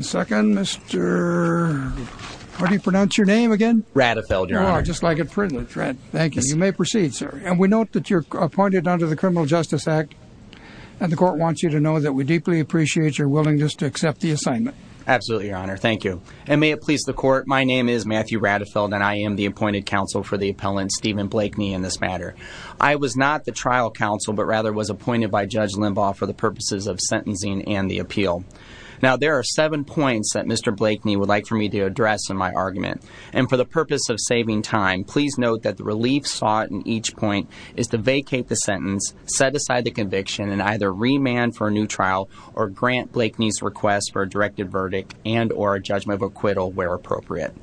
Second, Mr. How do you pronounce your name again? Radefeld, Your Honor. Oh, just like it's written. Thank you. You may proceed, sir. And we note that you're appointed under the Criminal Justice Act, and the court wants you to know that we deeply appreciate your willingness to accept the assignment. Absolutely, Your Honor. Thank you. And may it please the court, my name is Matthew Radefeld, and I am the appointed counsel for the appellant, Steven Blakeney, in this matter. of sentencing and the appeal. Now, there are seven points that Mr. Blakeney would like for me to address in my argument. And for the purpose of saving time, please note that the relief sought in each point is to vacate the sentence, set aside the conviction, and either remand for a new trial or grant Blakeney's request for a directed verdict and or a judgment of acquittal where appropriate.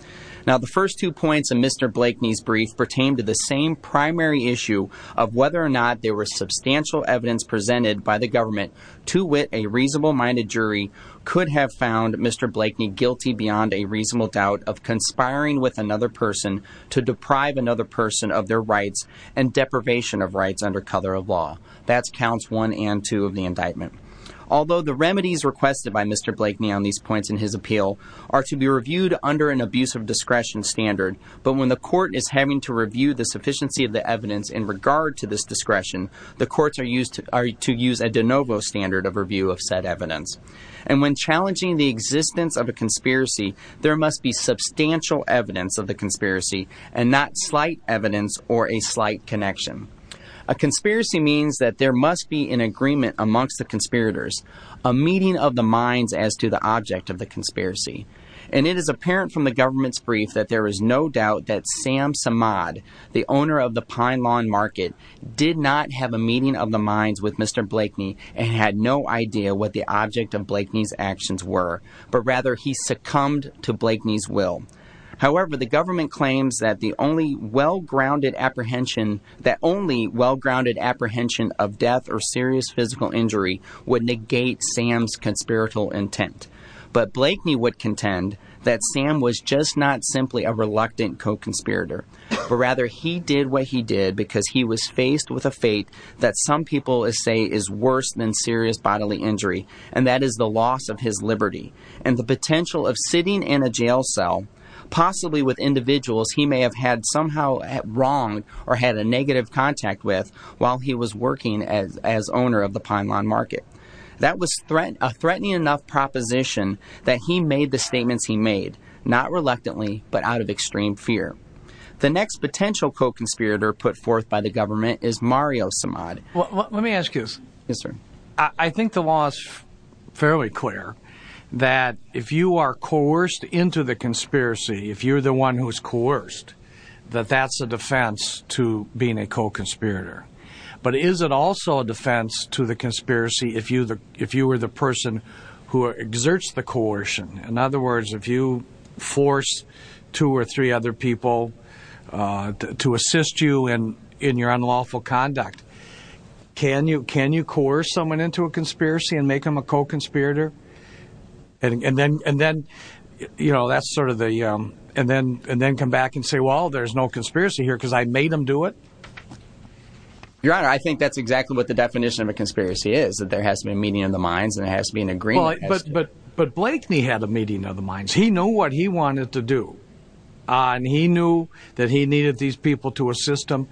Now the first two points in Mr. Blakeney's brief pertain to the same primary issue of whether or not there was substantial evidence presented by the government to wit a reasonable-minded jury could have found Mr. Blakeney guilty beyond a reasonable doubt of conspiring with another person to deprive another person of their rights and deprivation of rights under color of law. That's counts one and two of the indictment. Although the remedies requested by Mr. Blakeney on these points in his appeal are to be reviewed under an abuse of discretion standard, but when the court is having to review the sufficiency of the evidence in regard to this discretion, the courts are used to use a de novo standard of review of said evidence. And when challenging the existence of a conspiracy, there must be substantial evidence of the conspiracy and not slight evidence or a slight connection. A conspiracy means that there must be an agreement amongst the conspirators, a meeting of the minds as to the object of the conspiracy. And it is apparent from the government's brief that there is no doubt that Sam Samad, the owner of the Pine Lawn Market, did not have a meeting of the minds with Mr. Blakeney and had no idea what the object of Blakeney's actions were, but rather he succumbed to Blakeney's will. However, the government claims that the only well-grounded apprehension, that only well-grounded apprehension of death or serious physical injury would negate Sam's conspiratorial intent. But Blakeney would contend that Sam was just not simply a reluctant co-conspirator, but rather he did what he did because he was faced with a fate that some people say is worse than serious bodily injury, and that is the loss of his liberty and the potential of sitting in a jail cell, possibly with individuals he may have had somehow wronged or had a negative contact with while he was working as owner of the Pine Lawn Market. That was a threatening enough proposition that he made the statements he made, not reluctantly, but out of extreme fear. The next potential co-conspirator put forth by the government is Mario Samad. Let me ask you this. I think the law is fairly clear that if you are coerced into the conspiracy, if you're the one who's coerced, that that's a defense to being a co-conspirator. But is it also a defense to the conspiracy if you were the person who exerts the coercion? In other words, if you force two or three other people to assist you in your unlawful conduct, can you coerce someone into a conspiracy and make them a co-conspirator? And then come back and say, well, there's no conspiracy here because I made them do it? Your Honor, I think that's exactly what the definition of a conspiracy is, that there has to be a meeting of the minds and there has to be an agreement. But Blakeney had a meeting of the minds. He knew what he wanted to do and he knew that he needed these people to assist him.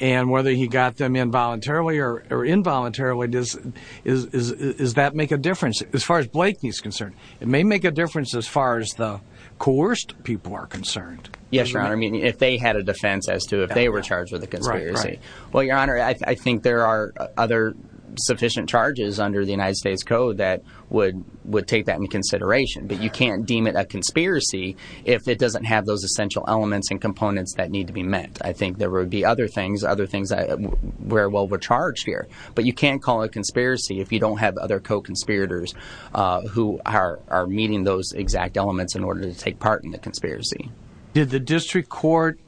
And whether he got them involuntarily or involuntarily, does that make a difference? As far as Blakeney is concerned, it may make a difference as far as the coerced people are concerned. Yes, Your Honor. I mean, if they had a defense as to if they were charged with a conspiracy. Well, Your Honor, I think there are other sufficient charges under the United States Code that would take that into consideration. But you can't deem it a conspiracy if it doesn't have those essential elements and components that need to be met. I think there would be other things, other things that were charged here. But you can't call it a conspiracy if you don't have other co-conspirators who are meeting those exact elements in order to take part in the conspiracy. Did the district court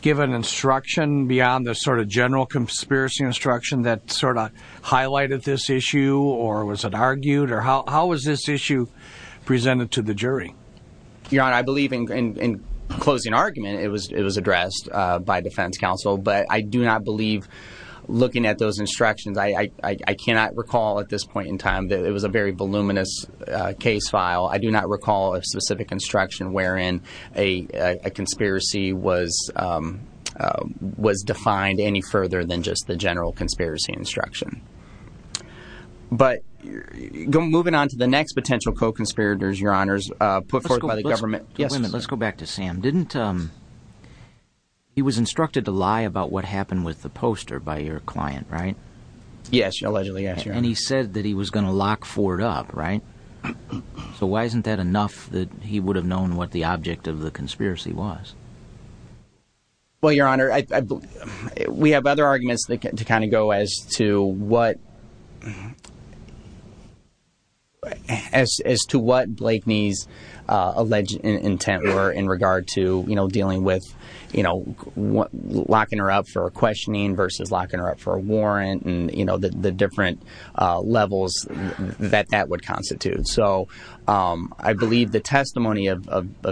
give an instruction beyond the sort of general conspiracy instruction that sort of highlighted this issue or was it argued or how was this issue presented to the jury? Your Honor, I believe in closing argument, it was addressed by defense counsel. But I do not believe looking at those instructions, I cannot recall at this point in time that it was a very voluminous case file. I do not recall a specific instruction wherein a conspiracy was defined any further than just the general conspiracy instruction. But moving on to the next potential co-conspirators, Your Honor, put forth by the government. Wait a minute, let's go back to Sam. He was instructed to lie about what happened with the poster by your client, right? Yes, allegedly, yes, Your Honor. And he said that he was going to lock Ford up, right? So why isn't that enough that he would have known what the object of the conspiracy was? Well, Your Honor, we have other arguments to kind of go as to what Blakeney's alleged intent were in regard to, you know, dealing with, you know, locking her up for a questioning versus locking her up for a warrant and, you know, the different levels that that would constitute. So I believe the testimony of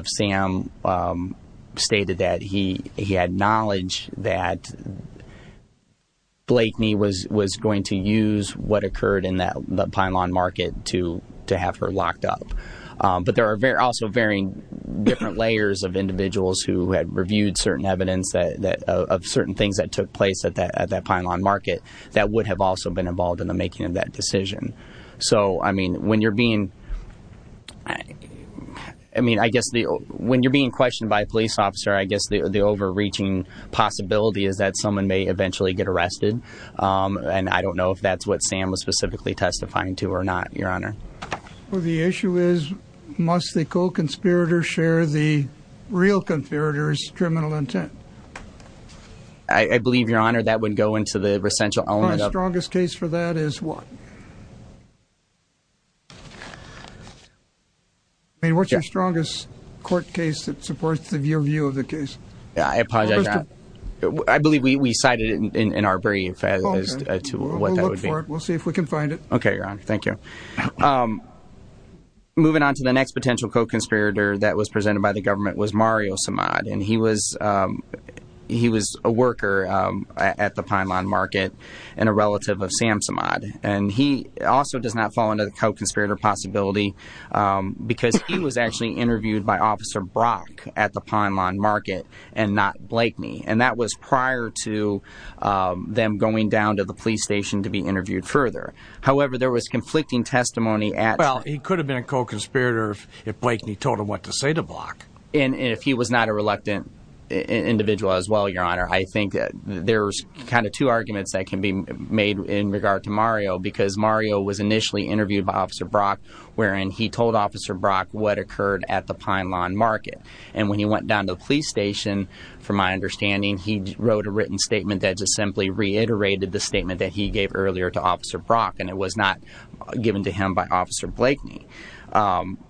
Sam stated that he had knowledge that Blakeney was going to use what occurred in that pylon market to have her locked up. But there are also varying different layers of individuals who had reviewed certain evidence of certain things that took place at that pylon market that would have also been involved in the making of that decision. So, I mean, when you're being, I mean, I guess when you're being questioned by a police officer, I guess the overreaching possibility is that someone may eventually get arrested. And I don't know if that's what Sam was specifically testifying to or not, Your Honor. Well, the issue is, must the co-conspirator share the real conspirator's criminal intent? I believe, Your Honor, that would go into the recentral element of... That is what? I mean, what's your strongest court case that supports your view of the case? I apologize, Your Honor. I believe we cited it in our brief as to what that would be. We'll look for it. We'll see if we can find it. Okay, Your Honor. Thank you. Moving on to the next potential co-conspirator that was presented by the government was Mario Samad. And he was a worker at the Pine Lawn Market and a relative of Sam Samad. And he also does not fall under the co-conspirator possibility because he was actually interviewed by Officer Brock at the Pine Lawn Market and not Blakeney. And that was prior to them going down to the police station to be interviewed further. However, there was conflicting testimony at... Well, he could have been a co-conspirator if Blakeney told him what to say to Brock. And if he was not a reluctant individual as well, Your Honor, I think there's kind of two arguments that can be made in regard to Mario because Mario was initially interviewed by Officer Brock, wherein he told Officer Brock what occurred at the Pine Lawn Market. And when he went down to the police station, from my understanding, he wrote a written statement that just simply reiterated the statement that he gave earlier to Officer Brock. And it was not given to him by Officer Blakeney.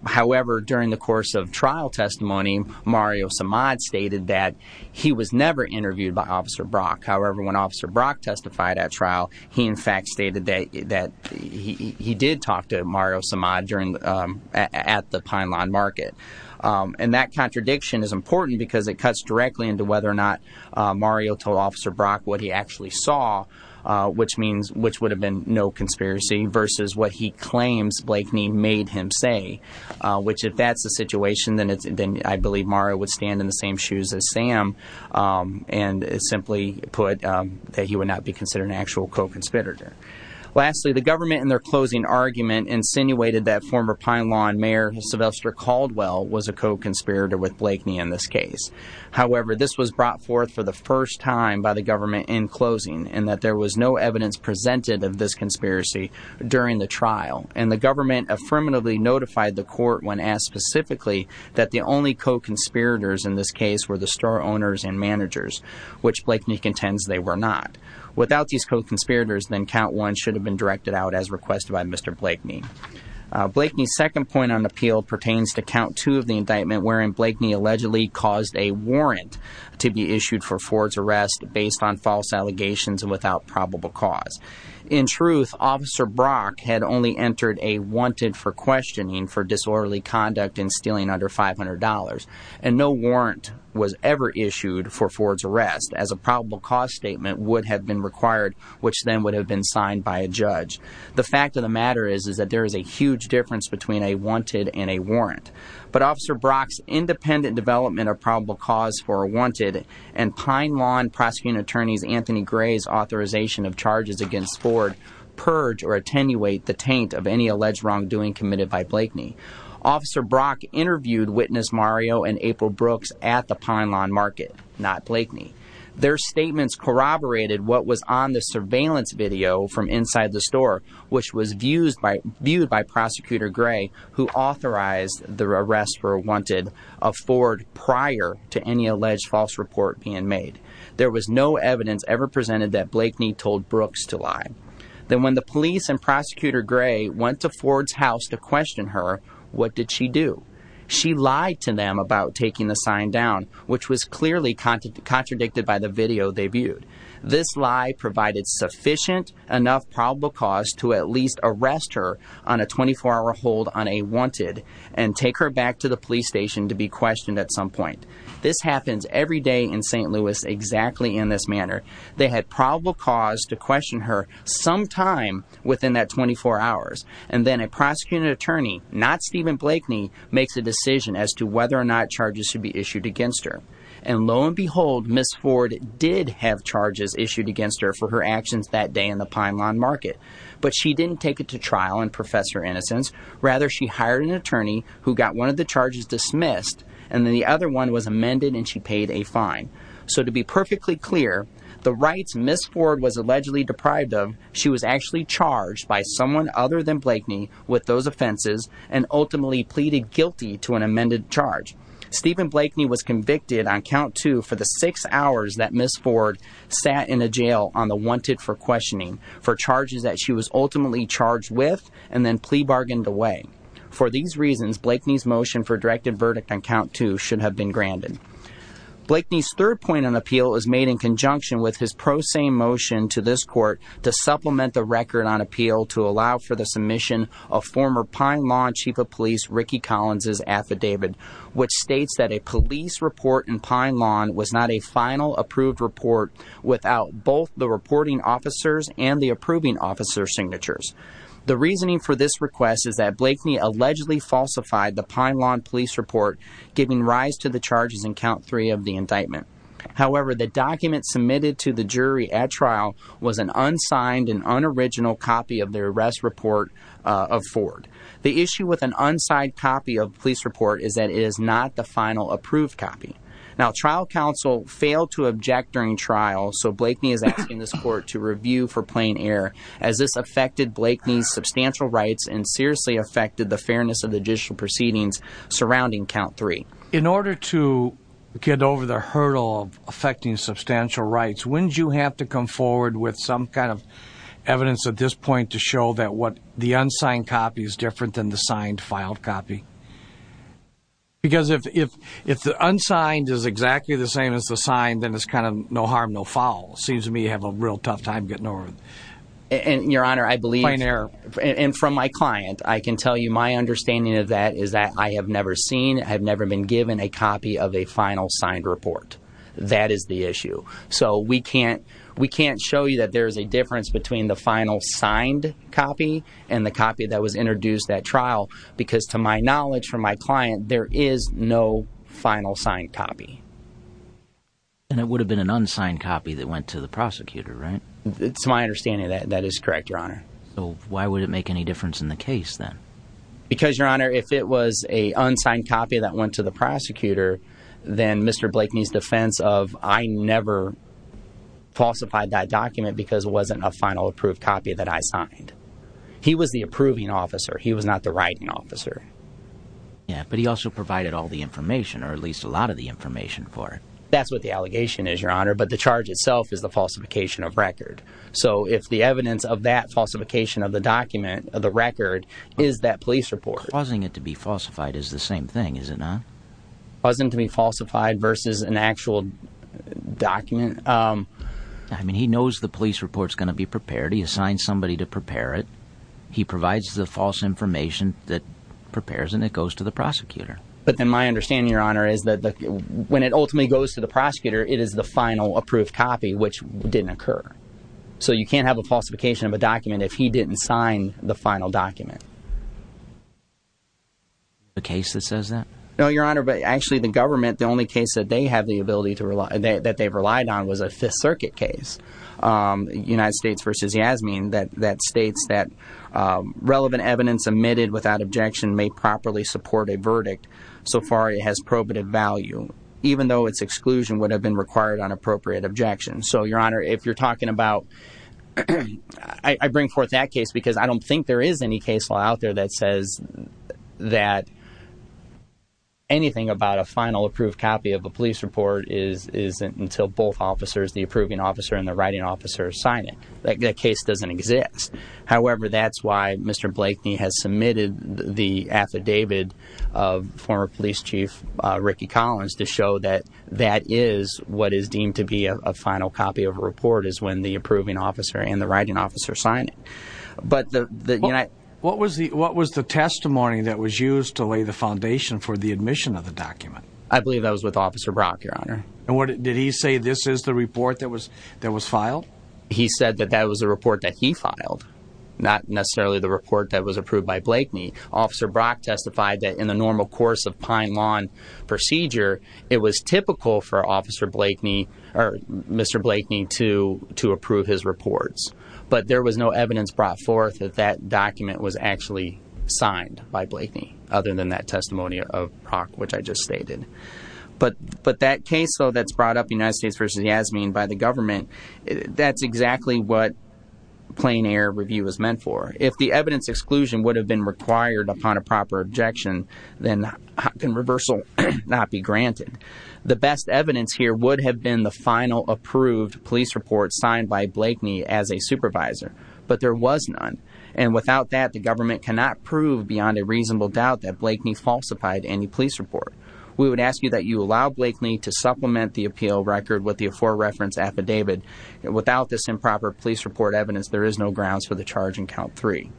However, during the course of trial testimony, Mario Samad stated that he was never interviewed by Officer Brock. However, when Officer Brock testified at trial, he in fact stated that he did talk to Mario Samad at the Pine Lawn Market. And that contradiction is important because it cuts directly into whether or not Mario told Officer Brock what he actually saw, which means... versus what he claims Blakeney made him say, which if that's the situation, then I believe Mario would stand in the same shoes as Sam and simply put that he would not be considered an actual co-conspirator. Lastly, the government in their closing argument insinuated that former Pine Lawn Mayor Sylvester Caldwell was a co-conspirator with Blakeney in this case. However, this was brought forth for the first time by the government in closing and that there was no evidence presented of this conspiracy during the trial. And the government affirmatively notified the court when asked specifically that the only co-conspirators in this case were the store owners and managers, which Blakeney contends they were not. Without these co-conspirators, then Count 1 should have been directed out as requested by Mr. Blakeney. Blakeney's second point on appeal pertains to Count 2 of the indictment wherein Blakeney allegedly caused a warrant to be issued for Ford's arrest based on false allegations and without probable cause. In truth, Officer Brock had only entered a wanted for questioning for disorderly conduct and stealing under $500. And no warrant was ever issued for Ford's arrest as a probable cause statement would have been required, which then would have been signed by a judge. The fact of the matter is that there is a huge difference between a wanted and a warrant. But Officer Brock's independent development of probable cause for a wanted and Pine Lawn Prosecuting Attorneys Anthony Gray's authorization of charges against Ford purge or attenuate the taint of any alleged wrongdoing committed by Blakeney. Officer Brock interviewed Witness Mario and April Brooks at the Pine Lawn Market, not Blakeney. Their statements corroborated what was on the surveillance video from inside the store, which was viewed by Prosecutor Gray, who authorized the arrest for a wanted of Ford prior to any alleged false report being made. There was no evidence ever presented that Blakeney told Brooks to lie. Then when the police and Prosecutor Gray went to Ford's house to question her, what did she do? She lied to them about taking the sign down, which was clearly contradicted by the video they viewed. This lie provided sufficient enough probable cause to at least arrest her on a 24-hour hold on a wanted and take her back to the police station to be questioned at some point. This happens every day in St. Louis exactly in this manner. They had probable cause to question her sometime within that 24 hours. And then a prosecuting attorney, not Stephen Blakeney, makes a decision as to whether or not charges should be issued against her. And lo and behold, Ms. Ford did have charges issued against her for her actions that day in the Pine Lawn Market. But she didn't take it to trial and profess her innocence. Rather, she hired an attorney who got one of the charges dismissed, and then the other one was amended and she paid a fine. So to be perfectly clear, the rights Ms. Ford was allegedly deprived of, she was actually charged by someone other than Blakeney with those offenses and ultimately pleaded guilty to an amended charge. Stephen Blakeney was convicted on count two for the six hours that Ms. Ford sat in a jail on the wanted for questioning for charges that she was ultimately charged with and then plea bargained away. For these reasons, Blakeney's motion for a directed verdict on count two should have been granted. Blakeney's third point on appeal is made in conjunction with his pro se motion to this court to supplement the record on appeal to allow for the submission of former Pine Lawn Chief of Police Ricky Collins' affidavit, which states that a police report in Pine Lawn was not a final approved report without both the reporting officers and the approving officer signatures. The reasoning for this request is that Blakeney allegedly falsified the Pine Lawn police report, giving rise to the charges in count three of the indictment. However, the document submitted to the jury at trial was an unsigned and unoriginal copy of the arrest report of Ford. The issue with an unsigned copy of the police report is that it is not the final approved copy. Now, trial counsel failed to object during trial, so Blakeney is asking this court to Blakeney's substantial rights and seriously affected the fairness of the judicial proceedings surrounding count three. In order to get over the hurdle of affecting substantial rights, wouldn't you have to come forward with some kind of evidence at this point to show that what the unsigned copy is different than the signed, filed copy? Because if the unsigned is exactly the same as the signed, then it's kind of no harm, no foul. It seems to me you have a real tough time getting over it. Your Honor, I believe... Plain error. And from my client, I can tell you my understanding of that is that I have never seen, have never been given a copy of a final signed report. That is the issue. So we can't show you that there's a difference between the final signed copy and the copy that was introduced at trial, because to my knowledge from my client, there is no final signed copy. And it would have been an unsigned copy that went to the prosecutor, right? To my understanding, that is correct, Your Honor. So why would it make any difference in the case, then? Because Your Honor, if it was an unsigned copy that went to the prosecutor, then Mr. Blakeney's defense of I never falsified that document because it wasn't a final approved copy that I signed. He was the approving officer. He was not the writing officer. Yeah, but he also provided all the information, or at least a lot of the information for it. That's what the allegation is, Your Honor. But the charge itself is the falsification of record. So if the evidence of that falsification of the document, of the record, is that police report. Causing it to be falsified is the same thing, is it not? Causing it to be falsified versus an actual document? I mean, he knows the police report's going to be prepared. He assigned somebody to prepare it. He provides the false information that prepares and it goes to the prosecutor. It is the final approved copy, which didn't occur. So you can't have a falsification of a document if he didn't sign the final document. The case that says that? No, Your Honor. But actually, the government, the only case that they have the ability to rely, that they've relied on was a Fifth Circuit case, United States versus Yasmeen, that states that relevant evidence omitted without objection may properly support a verdict so far it has probative value. Even though its exclusion would have been required on appropriate objection. So Your Honor, if you're talking about, I bring forth that case because I don't think there is any case law out there that says that anything about a final approved copy of a police report isn't until both officers, the approving officer and the writing officer, sign it. That case doesn't exist. However, that's why Mr. Blakeney has submitted the affidavit of former police chief Ricky Collins to show that that is what is deemed to be a final copy of a report is when the approving officer and the writing officer sign it. What was the testimony that was used to lay the foundation for the admission of the document? I believe that was with Officer Brock, Your Honor. Did he say this is the report that was filed? He said that that was the report that he filed, not necessarily the report that was approved by Blakeney. Officer Brock testified that in the normal course of Pine Lawn procedure, it was typical for Mr. Blakeney to approve his reports. But there was no evidence brought forth that that document was actually signed by Blakeney other than that testimony of Brock, which I just stated. But that case that's brought up, United States v. Yasmeen, by the government, that's exactly what plain air review is meant for. If the evidence exclusion would have been required upon a proper objection, then how can reversal not be granted? The best evidence here would have been the final approved police report signed by Blakeney as a supervisor. But there was none. And without that, the government cannot prove beyond a reasonable doubt that Blakeney falsified any police report. We would ask you that you allow Blakeney to supplement the appeal record with the for-reference affidavit. Without this improper police report evidence, there is no grounds for the charge in Count 3.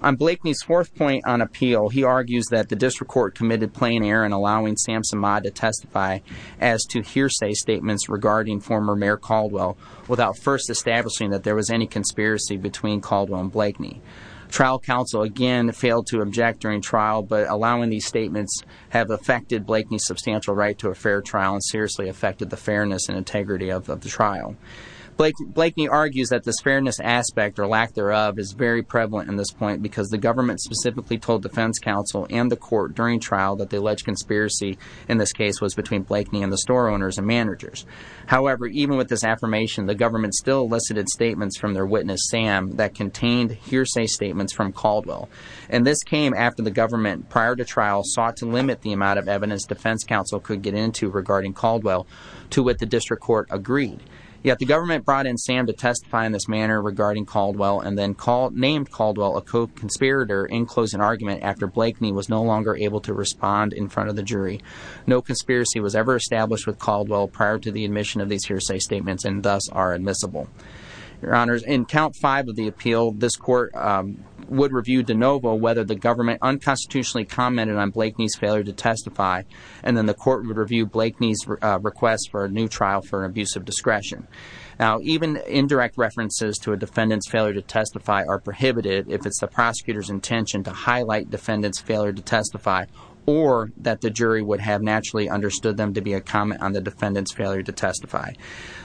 On Blakeney's fourth point on appeal, he argues that the district court committed plain air in allowing Sam Samad to testify as to hearsay statements regarding former Mayor Caldwell without first establishing that there was any conspiracy between Caldwell and Blakeney. Trial counsel again failed to object during trial, but allowing these statements have affected Blakeney's substantial right to a fair trial and seriously affected the fairness and integrity of the trial. Blakeney argues that this fairness aspect, or lack thereof, is very prevalent in this point because the government specifically told defense counsel and the court during trial that the alleged conspiracy in this case was between Blakeney and the store owners and managers. However, even with this affirmation, the government still elicited statements from their witness, Sam, that contained hearsay statements from Caldwell. And this came after the government, prior to trial, sought to limit the amount of evidence defense counsel could get into regarding Caldwell, to what the district court agreed. Yet, the government brought in Sam to testify in this manner regarding Caldwell and then named Caldwell a co-conspirator in closing argument after Blakeney was no longer able to respond in front of the jury. No conspiracy was ever established with Caldwell prior to the admission of these hearsay statements and thus are admissible. Your honors, in count five of the appeal, this court would review de novo whether the And then the court would review Blakeney's request for a new trial for an abuse of discretion. Now, even indirect references to a defendant's failure to testify are prohibited if it's the prosecutor's intention to highlight defendant's failure to testify or that the jury would have naturally understood them to be a comment on the defendant's failure to testify.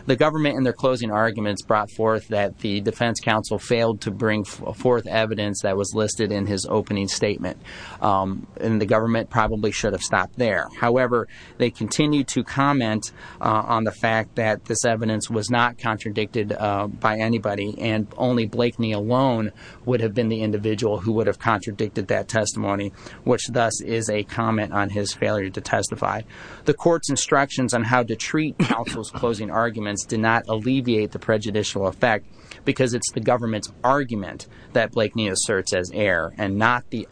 The government, in their closing arguments, brought forth that the defense counsel failed to bring forth evidence that was listed in his opening statement and the government probably should have stopped there. However, they continued to comment on the fact that this evidence was not contradicted by anybody and only Blakeney alone would have been the individual who would have contradicted that testimony, which thus is a comment on his failure to testify. The court's instructions on how to treat counsel's closing arguments did not alleviate the prejudicial effect because it's the government's argument that Blakeney asserts as error and not the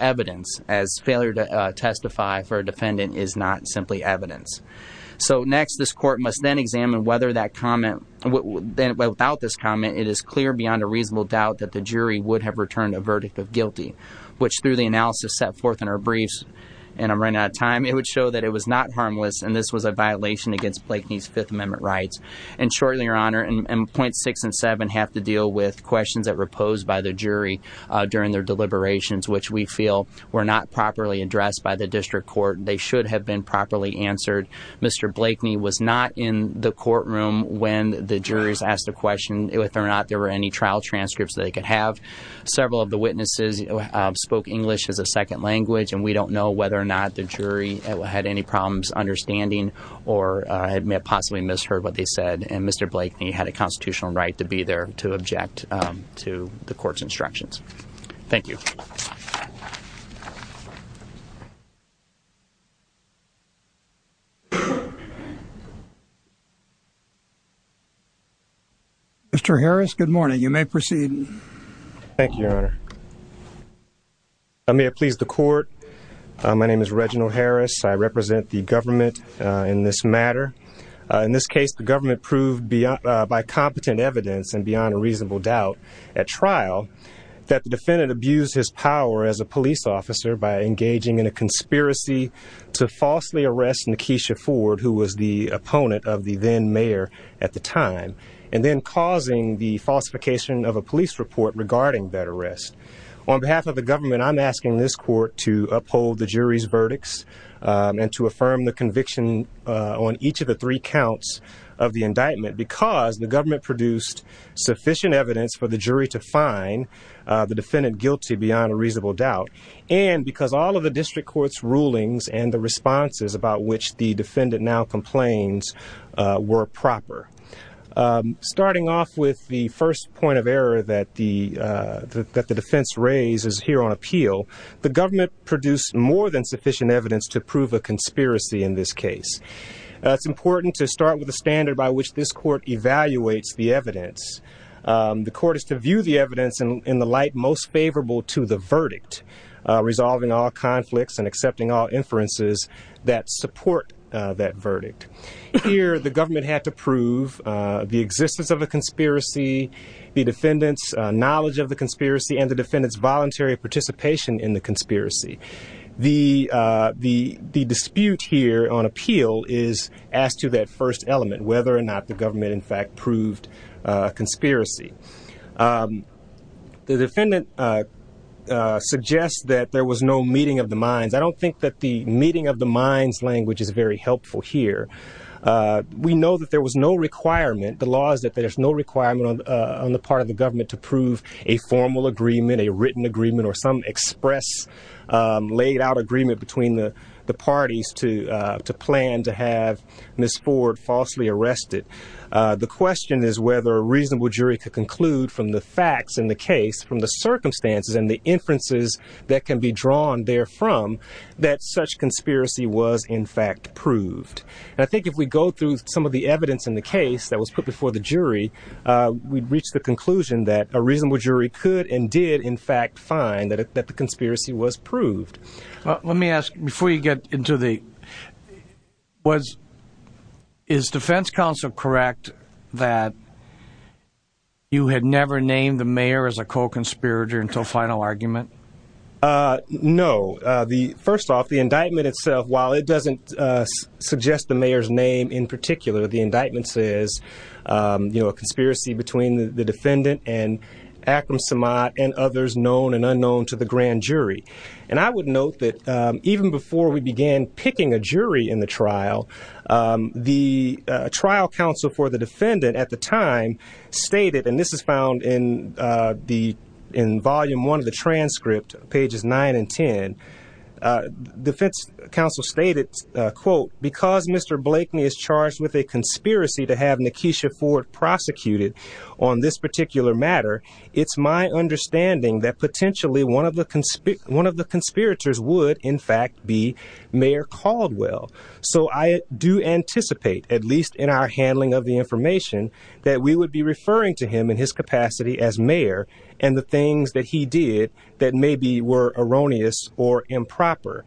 defendant is not simply evidence. So next, this court must then examine whether that comment, without this comment, it is clear beyond a reasonable doubt that the jury would have returned a verdict of guilty, which through the analysis set forth in our briefs, and I'm running out of time, it would show that it was not harmless and this was a violation against Blakeney's Fifth Amendment rights. And shortly, Your Honor, and points six and seven have to deal with questions that were posed by the jury during their deliberations, which we feel were not properly addressed by the district court. They should have been properly answered. Mr. Blakeney was not in the courtroom when the jurors asked the question whether or not there were any trial transcripts that they could have. Several of the witnesses spoke English as a second language and we don't know whether or not the jury had any problems understanding or had possibly misheard what they said. And Mr. Blakeney had a constitutional right to be there to object to the court's instructions. Thank you. Mr. Harris, good morning. You may proceed. Thank you, Your Honor. I may have pleased the court. My name is Reginald Harris. I represent the government in this matter. In this case, the government proved by competent evidence and beyond a reasonable doubt at the time. The defendant abused his power as a police officer by engaging in a conspiracy to falsely arrest Nakesha Ford, who was the opponent of the then mayor at the time, and then causing the falsification of a police report regarding that arrest. On behalf of the government, I'm asking this court to uphold the jury's verdicts and to affirm the conviction on each of the three counts of the indictment because the government a reasonable doubt, and because all of the district court's rulings and the responses about which the defendant now complains were proper. Starting off with the first point of error that the defense raised is here on appeal. The government produced more than sufficient evidence to prove a conspiracy in this case. It's important to start with a standard by which this court evaluates the evidence. The court is to view the evidence in the light most favorable to the verdict, resolving all conflicts and accepting all inferences that support that verdict. Here, the government had to prove the existence of a conspiracy, the defendant's knowledge of the conspiracy, and the defendant's voluntary participation in the conspiracy. The dispute here on appeal is asked to that first element, whether or not the government in fact proved a conspiracy. The defendant suggests that there was no meeting of the minds. I don't think that the meeting of the minds language is very helpful here. We know that there was no requirement, the law is that there's no requirement on the part of the government to prove a formal agreement, a written agreement, or some express, laid out agreement between the parties to plan to have Ms. Ford falsely arrested. The question is whether a reasonable jury could conclude from the facts in the case, from the circumstances and the inferences that can be drawn there from, that such conspiracy was in fact proved. I think if we go through some of the evidence in the case that was put before the jury, we'd reach the conclusion that a reasonable jury could and did in fact find that the conspiracy was proved. Let me ask, before you get into the... Is defense counsel correct that you had never named the mayor as a co-conspirator until final argument? No. First off, the indictment itself, while it doesn't suggest the mayor's name in particular, the indictment says a conspiracy between the defendant and Akram Samad and others known and unknown to the grand jury. And I would note that even before we began picking a jury in the trial, the trial counsel for the defendant at the time stated, and this is found in volume one of the transcript, pages nine and 10, defense counsel stated, quote, because Mr. Blakeney is charged with a conspiracy to have Nekesha Ford prosecuted on this particular matter, it's my understanding that potentially one of the conspirators would in fact be Mayor Caldwell. So I do anticipate, at least in our handling of the information, that we would be referring to him in his capacity as mayor and the things that he did that maybe were erroneous or improper.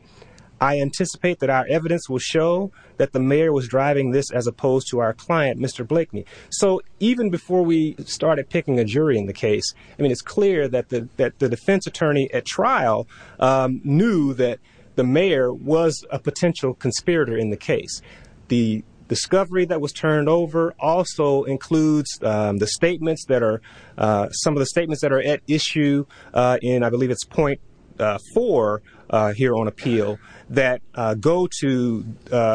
I anticipate that our evidence will show that the mayor was driving this as opposed to our client, Mr. Blakeney. So even before we started picking a jury in the case, I mean, it's clear that the defense attorney at trial knew that the mayor was a potential conspirator in the case. The discovery that was turned over also includes the statements that are, some of the statements that are at issue in, I believe it's point four here on appeal, that go to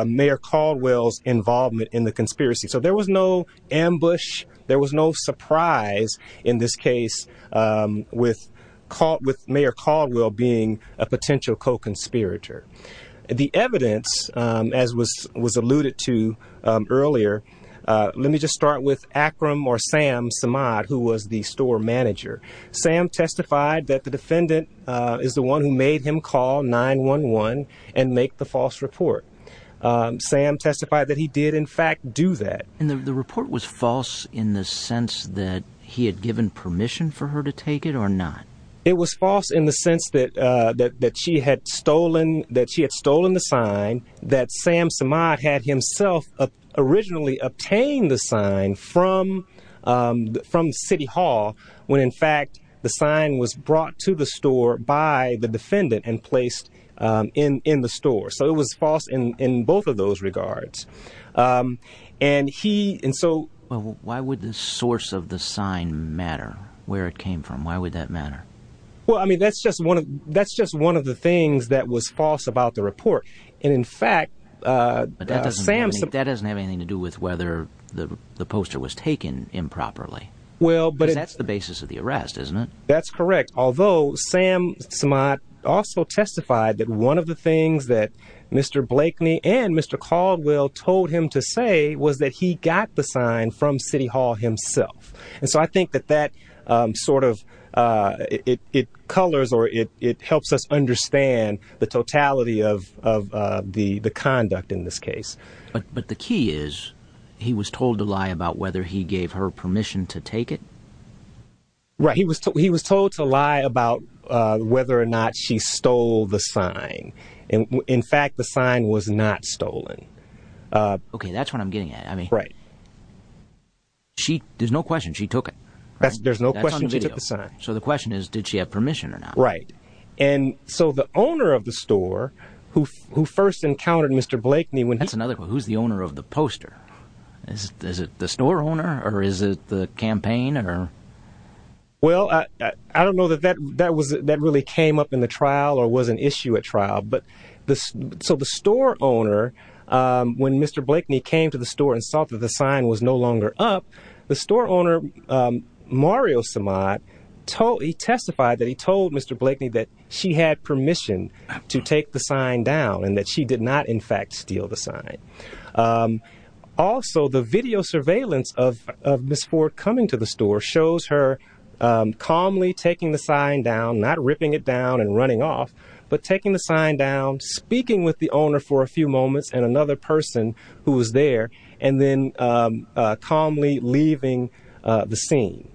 Mayor Caldwell's involvement in the conspiracy. So there was no ambush. There was no surprise in this case with Mayor Caldwell being a potential co-conspirator. The evidence, as was alluded to earlier, let me just start with Akram or Sam Samad, who was the store manager. Sam testified that the defendant is the one who made him call 911 and make the false report. Sam testified that he did, in fact, do that. And the report was false in the sense that he had given permission for her to take it or not? It was false in the sense that that she had stolen, that she had stolen the sign, that Sam Samad had himself originally obtained the sign from from City Hall, when in fact the sign was brought to the store by the defendant and placed in the store. So it was false in both of those regards. And he and so why would the source of the sign matter where it came from? Why would that matter? Well, I mean, that's just one of that's just one of the things that was false about the report. And in fact, Sam, that doesn't have anything to do with whether the poster was taken improperly. Well, but that's the basis of the arrest, isn't it? That's correct. Although Sam Samad also testified that one of the things that Mr. Blakeney and Mr. Caldwell told him to say was that he got the sign from City Hall himself. And so I think that that sort of it colors or it helps us understand the totality of the conduct in this case. But the key is he was told to lie about whether he gave her permission to take it. Right, he was he was told to lie about whether or not she stole the sign. And in fact, the sign was not stolen. OK, that's what I'm getting at. I mean, right. She there's no question she took it. There's no question she took the sign. So the question is, did she have permission or not? Right. And so the owner of the store who who first encountered Mr. Blakeney, when that's another who's the owner of the poster, is it the store owner or is it the campaign or? Well, I don't know that that that was that really came up in the trial or was an issue at trial, but the so the store owner, when Mr. Blakeney came to the store and saw that the sign was no longer up, the store owner, Mario Samad, he testified that he told Mr. Blakeney that she had permission to take the sign down and that she did not, in fact, steal the sign. Also, the video surveillance of Ms. Ford coming to the store shows her calmly taking the sign down, not ripping it down and running off, but taking the sign down, speaking with the owner for a few moments and another person who was there and then calmly leaving the scene.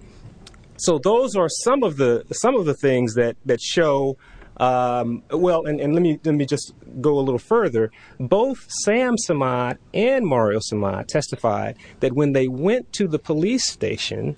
So those are some of the some of the things that that show. Well, and let me let me just go a little further. Both Sam Samad and Mario Samad testified that when they went to the police station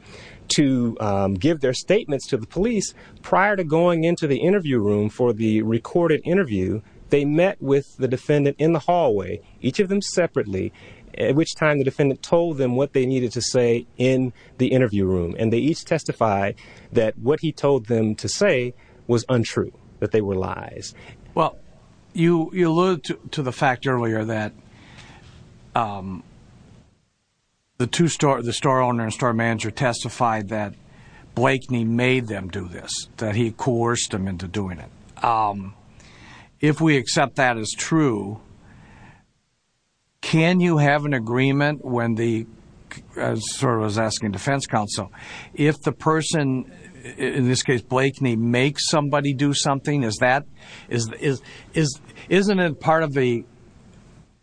to give their statements to the police prior to going into the interview room for the recorded interview, they met with the defendant in the hallway, each of them separately, at which time the defendant told them what they needed to say in the interview room. And they each testify that what he told them to say was untrue. But they were lies. Well, you alluded to the fact earlier that. The two store, the store owner and store manager testified that Blakeney made them do this, that he coerced them into doing it. If we accept that as true. Can you have an agreement when the server is asking defense counsel if the person, in this case, Blakeney, make somebody do something? Is that is is isn't it part of the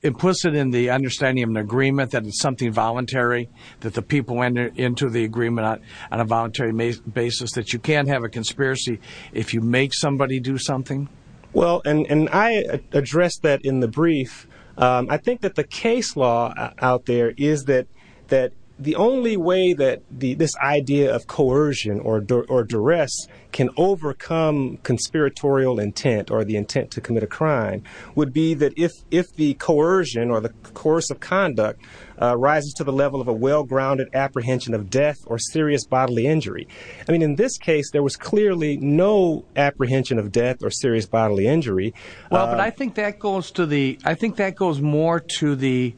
implicit in the understanding of an agreement that it's something voluntary, that the people went into the agreement on a voluntary basis, that you can't have a conspiracy if you make somebody do something? Well, and I addressed that in the brief. I think that the case law out there is that that the only way that this idea of coercion or duress can overcome conspiratorial intent or the intent to commit a crime would be that if if the coercion or the course of conduct rises to the level of a well-grounded apprehension of death or serious bodily injury. I mean, in this case, there was clearly no apprehension of death or serious bodily injury. Well, but I think that goes to the I think that goes more to the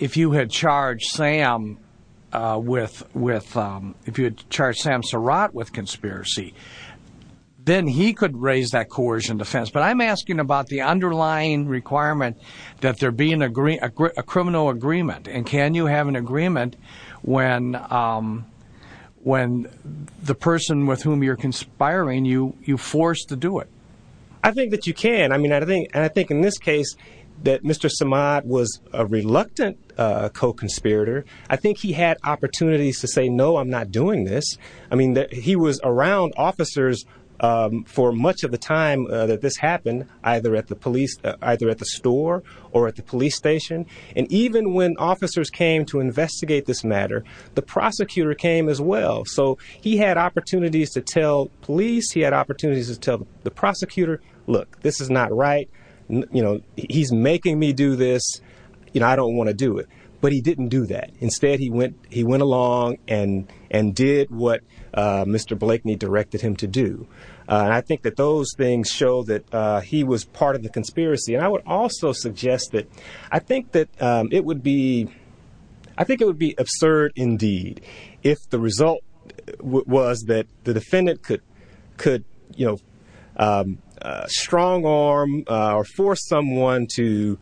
if you had charged Sam with with if you had charged Sam Surratt with conspiracy, then he could raise that coercion defense. But I'm asking about the underlying requirement that there be an agree a criminal agreement. And can you have an agreement when when the person with whom you're conspiring, you you forced to do it? I think that you can. I mean, I think and I think in this case that Mr. Samad was a reluctant co-conspirator. I think he had opportunities to say, no, I'm not doing this. I mean, he was around officers for much of the time that this happened, either at the police, either at the store or at the police station. And even when officers came to investigate this matter, the prosecutor came as well. So he had opportunities to tell police. He had opportunities to tell the prosecutor, look, this is not right. You know, he's making me do this. You know, I don't want to do it. But he didn't do that. Instead, he went he went along and and did what Mr. Blakely directed him to do. And I think that those things show that he was part of the conspiracy. And I would also suggest that I think that it would be I think it would be absurd indeed if the result was that the defendant could could, you know, strong arm or force someone to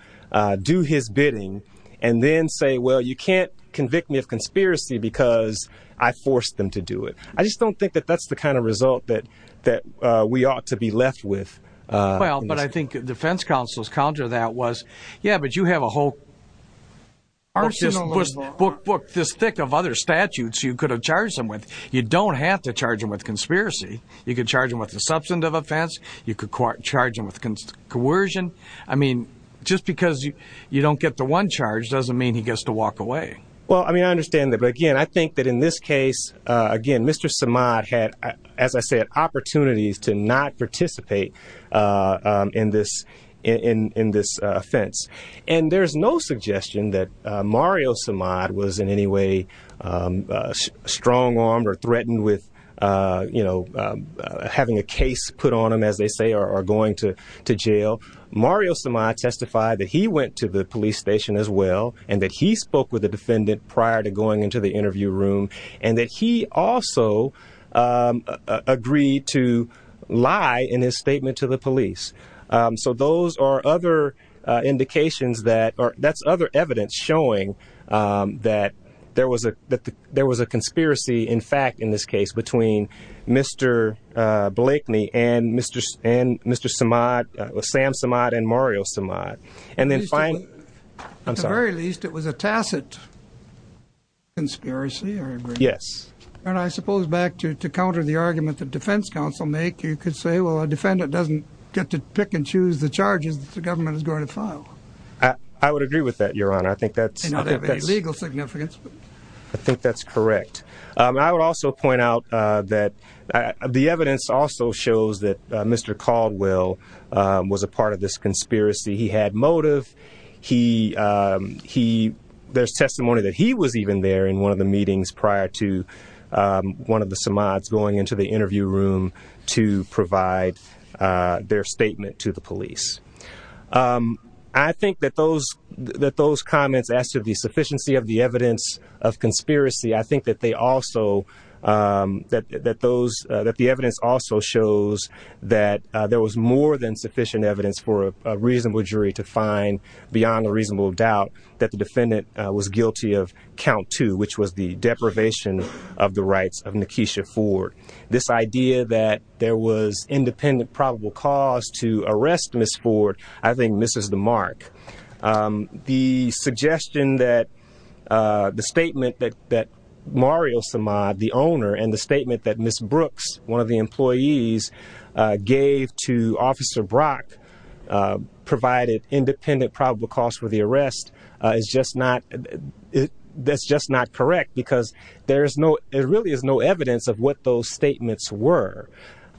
do his bidding and then say, well, you can't convict me of conspiracy because I forced them to do it. I just don't think that that's the kind of result that that we ought to be left with. Well, but I think defense counsel's counter to that was, yeah, but you have a whole. Our system was book book this thick of other statutes you could have charged them with. You don't have to charge him with conspiracy. You could charge him with a substantive offense. You could charge him with coercion. I mean, just because you don't get the one charge doesn't mean he gets to walk away. Well, I mean, I understand that. But again, I think that in this case, again, Mr. Samad had, as I said, opportunities to not participate in this in this offense. And there's no suggestion that Mario Samad was in any way strong armed or threatened with, you know, having a case put on him, as they say, or going to to jail. Mario Samad testified that he went to the police station as well and that he spoke with the defendant prior to going into the interview room and that he also agreed to lie in his statement to the police. So those are other indications that are that's other evidence showing that there was a that there was a conspiracy, in fact, in this case between Mr. Blakely and Mr. and Mr. Samad, Sam Samad and Mario Samad. And then finally, I'm sorry, at the very least, it was a tacit. Conspiracy. Yes. And I suppose back to to counter the argument that Defense Council make, you could say, well, a defendant doesn't get to pick and choose the charges that the government is going to file. I would agree with that, Your Honor. I think that's not a legal significance. I think that's correct. I would also point out that the evidence also shows that Mr. Caldwell was a part of this conspiracy. He had motive. He he there's testimony that he was even there in one of the meetings prior to one of the Samad's going into the interview room to provide their statement to the police. I think that those that those comments as to the sufficiency of the evidence of conspiracy, I think that they also that that those that the evidence also shows that there was more than sufficient evidence for a reasonable jury to find beyond a reasonable doubt that the defendant was guilty of count two, which was the deprivation of the rights of Nikesha Ford. This idea that there was independent probable cause to arrest Miss Ford, I think this is the mark. The suggestion that the statement that that Mario Samad, the owner and the statement that Miss Brooks, one of the employees, gave to Officer Brock provided independent probable cause for the arrest is just not that's just not correct, because there is no there really is no evidence of what those statements were.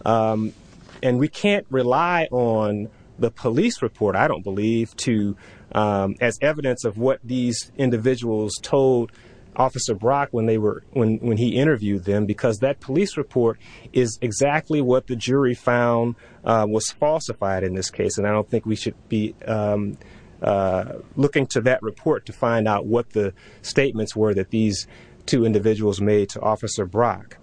And we can't rely on the police report, I don't believe to as evidence of what these individuals told Officer Brock when they were when when he interviewed them, because that police report is exactly what the jury found was falsified in this case. And I don't think we should be looking to that report to find out what the statements were that these two individuals made to Officer Brock.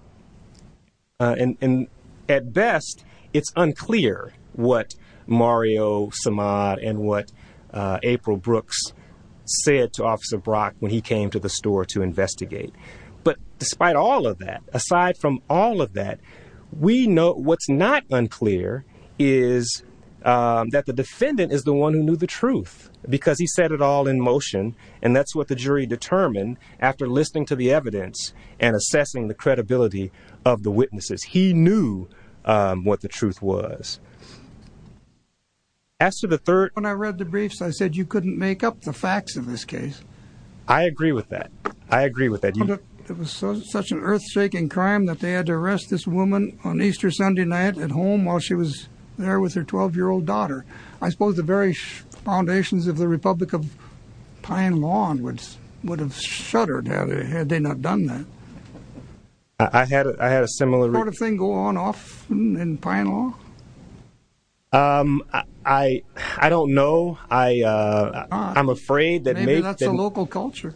And at best, it's unclear what Mario Samad and what April Brooks said to Officer Brock when he came to the store to investigate. But despite all of that, aside from all of that, we know what's not unclear is that the defendant is the one who knew the truth because he said it all in motion. And that's what the jury determined after listening to the evidence and assessing the credibility of the witnesses. He knew what the truth was. As to the third, when I read the briefs, I said, you couldn't make up the facts of this case. I agree with that. I agree with that. It was such an earthshaking crime that they had to arrest this woman on Easter Sunday night at home while she was there with her 12 year old daughter. I suppose the very foundations of the Republic of Pine Lawn would have shuddered had they not done that. I had I had a similar sort of thing go on off in Pine Lawn. I don't know. I I'm afraid that maybe that's a local culture.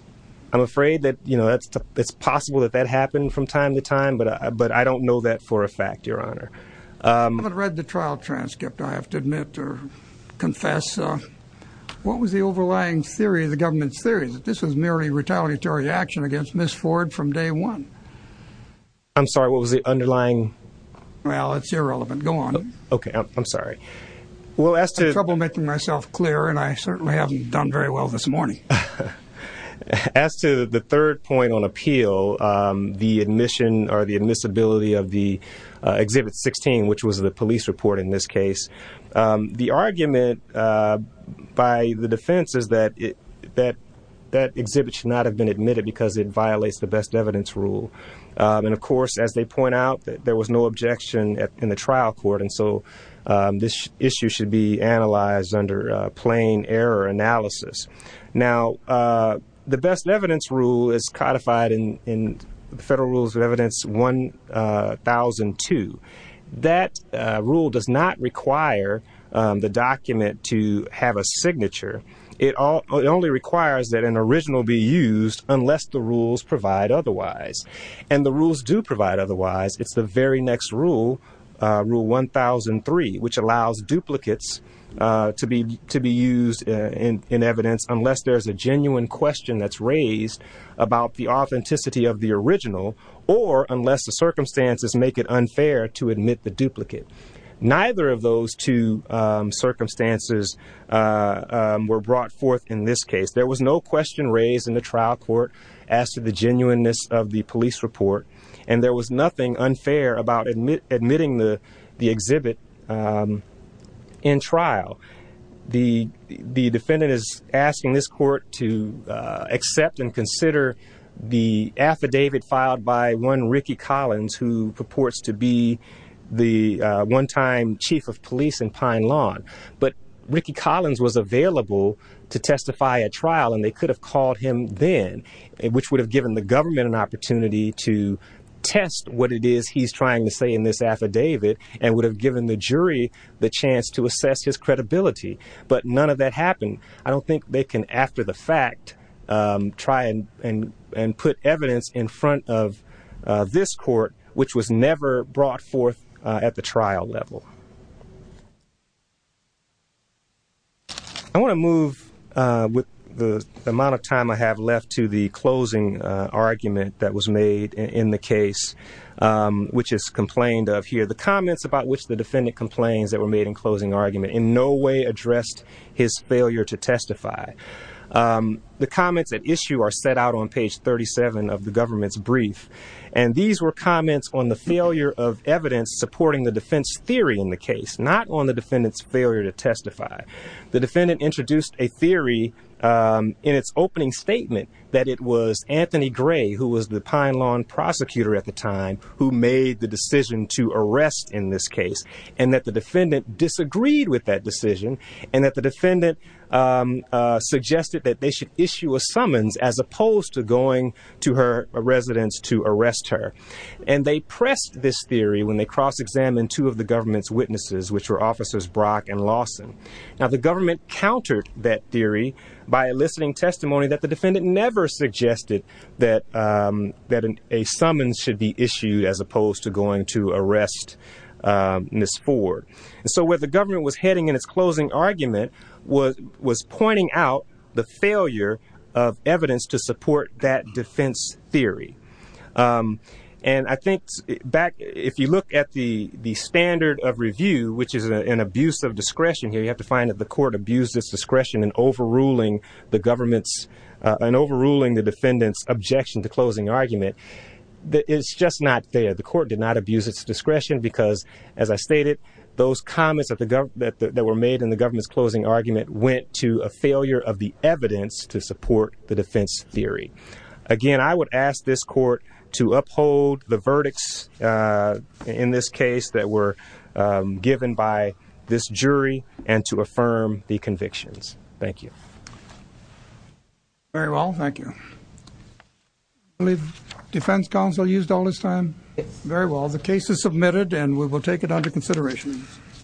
I'm afraid that, you know, it's possible that that happened from time to time. But but I don't know that for a fact, Your Honor. I haven't read the trial transcript, I have to admit or confess. What was the overlying theory of the government's theories that this was merely retaliatory action against Miss Ford from day one? I'm sorry, what was the underlying? Well, it's irrelevant. Go on. OK, I'm sorry. Well, as to trouble making myself clear, and I certainly haven't done very well this morning as to the third point on appeal, the admission or the admissibility of the exhibit 16, which was the police report in this case. The argument by the defense is that it that that exhibit should not have been admitted because it violates the best evidence rule. And of course, as they point out, there was no objection in the trial court. And so this issue should be analyzed under plain error analysis. Now, the best evidence rule is codified in the federal rules of evidence one thousand two. That rule does not require the document to have a signature. It only requires that an original be used unless the rules provide otherwise. And the rules do provide otherwise. It's the very next rule, rule one thousand three, which allows duplicates to be to be used in evidence unless there's a genuine question that's raised about the authenticity of the original or unless the circumstances make it unfair to admit the duplicate. Neither of those two circumstances were brought forth in this case. There was no question raised in the trial court as to the genuineness of the police report. And there was nothing unfair about admitting the exhibit in trial. The defendant is asking this court to accept and consider the affidavit filed by one Ricky Collins, who purports to be the one time chief of police in Pine Lawn. But Ricky Collins was available to testify at trial and they could have called him then, which would have given the government an opportunity to test what it is he's trying to say in this affidavit and would have given the jury the chance to assess his credibility. But none of that happened. I don't think they can, after the fact, try and put evidence in front of this court, which was never brought forth at the trial level. I want to move with the amount of time I have left to the closing argument that was made in the case, which is complained of here. The comments about which the defendant complains that were made in closing argument in no way addressed his failure to testify. The comments at issue are set out on page 37 of the government's brief. And these were comments on the failure of evidence supporting the defense theory in the case, not on the defendant's failure to testify. The defendant introduced a theory in its opening statement that it was Anthony Gray, who was the Pine Lawn prosecutor at the time, who made the decision to arrest in this case, and that the defendant disagreed with that decision and that the defendant suggested that they should issue a summons as opposed to going to her residence to arrest her. And they pressed this theory when they cross-examined two of the government's witnesses, which were officers Brock and Lawson. Now, the government countered that theory by eliciting testimony that the defendant never suggested that a summons should be issued as opposed to going to arrest Ms. Ford. And so where the government was heading in its closing argument was pointing out the failure of evidence to support that defense theory. And I think back, if you look at the standard of review, which is an abuse of discretion here, you have to find that the court abused its discretion in overruling the government's, in overruling the defendant's objection to closing argument. It's just not there. The court did not abuse its discretion because, as I stated, those comments that were made in the government's closing argument went to a failure of the evidence to support the defense theory. Again, I would ask this court to uphold the verdicts in this case that were given by this jury and to affirm the convictions. Thank you. Very well. Thank you. I believe defense counsel used all his time. Very well. The case is submitted and we will take it under consideration.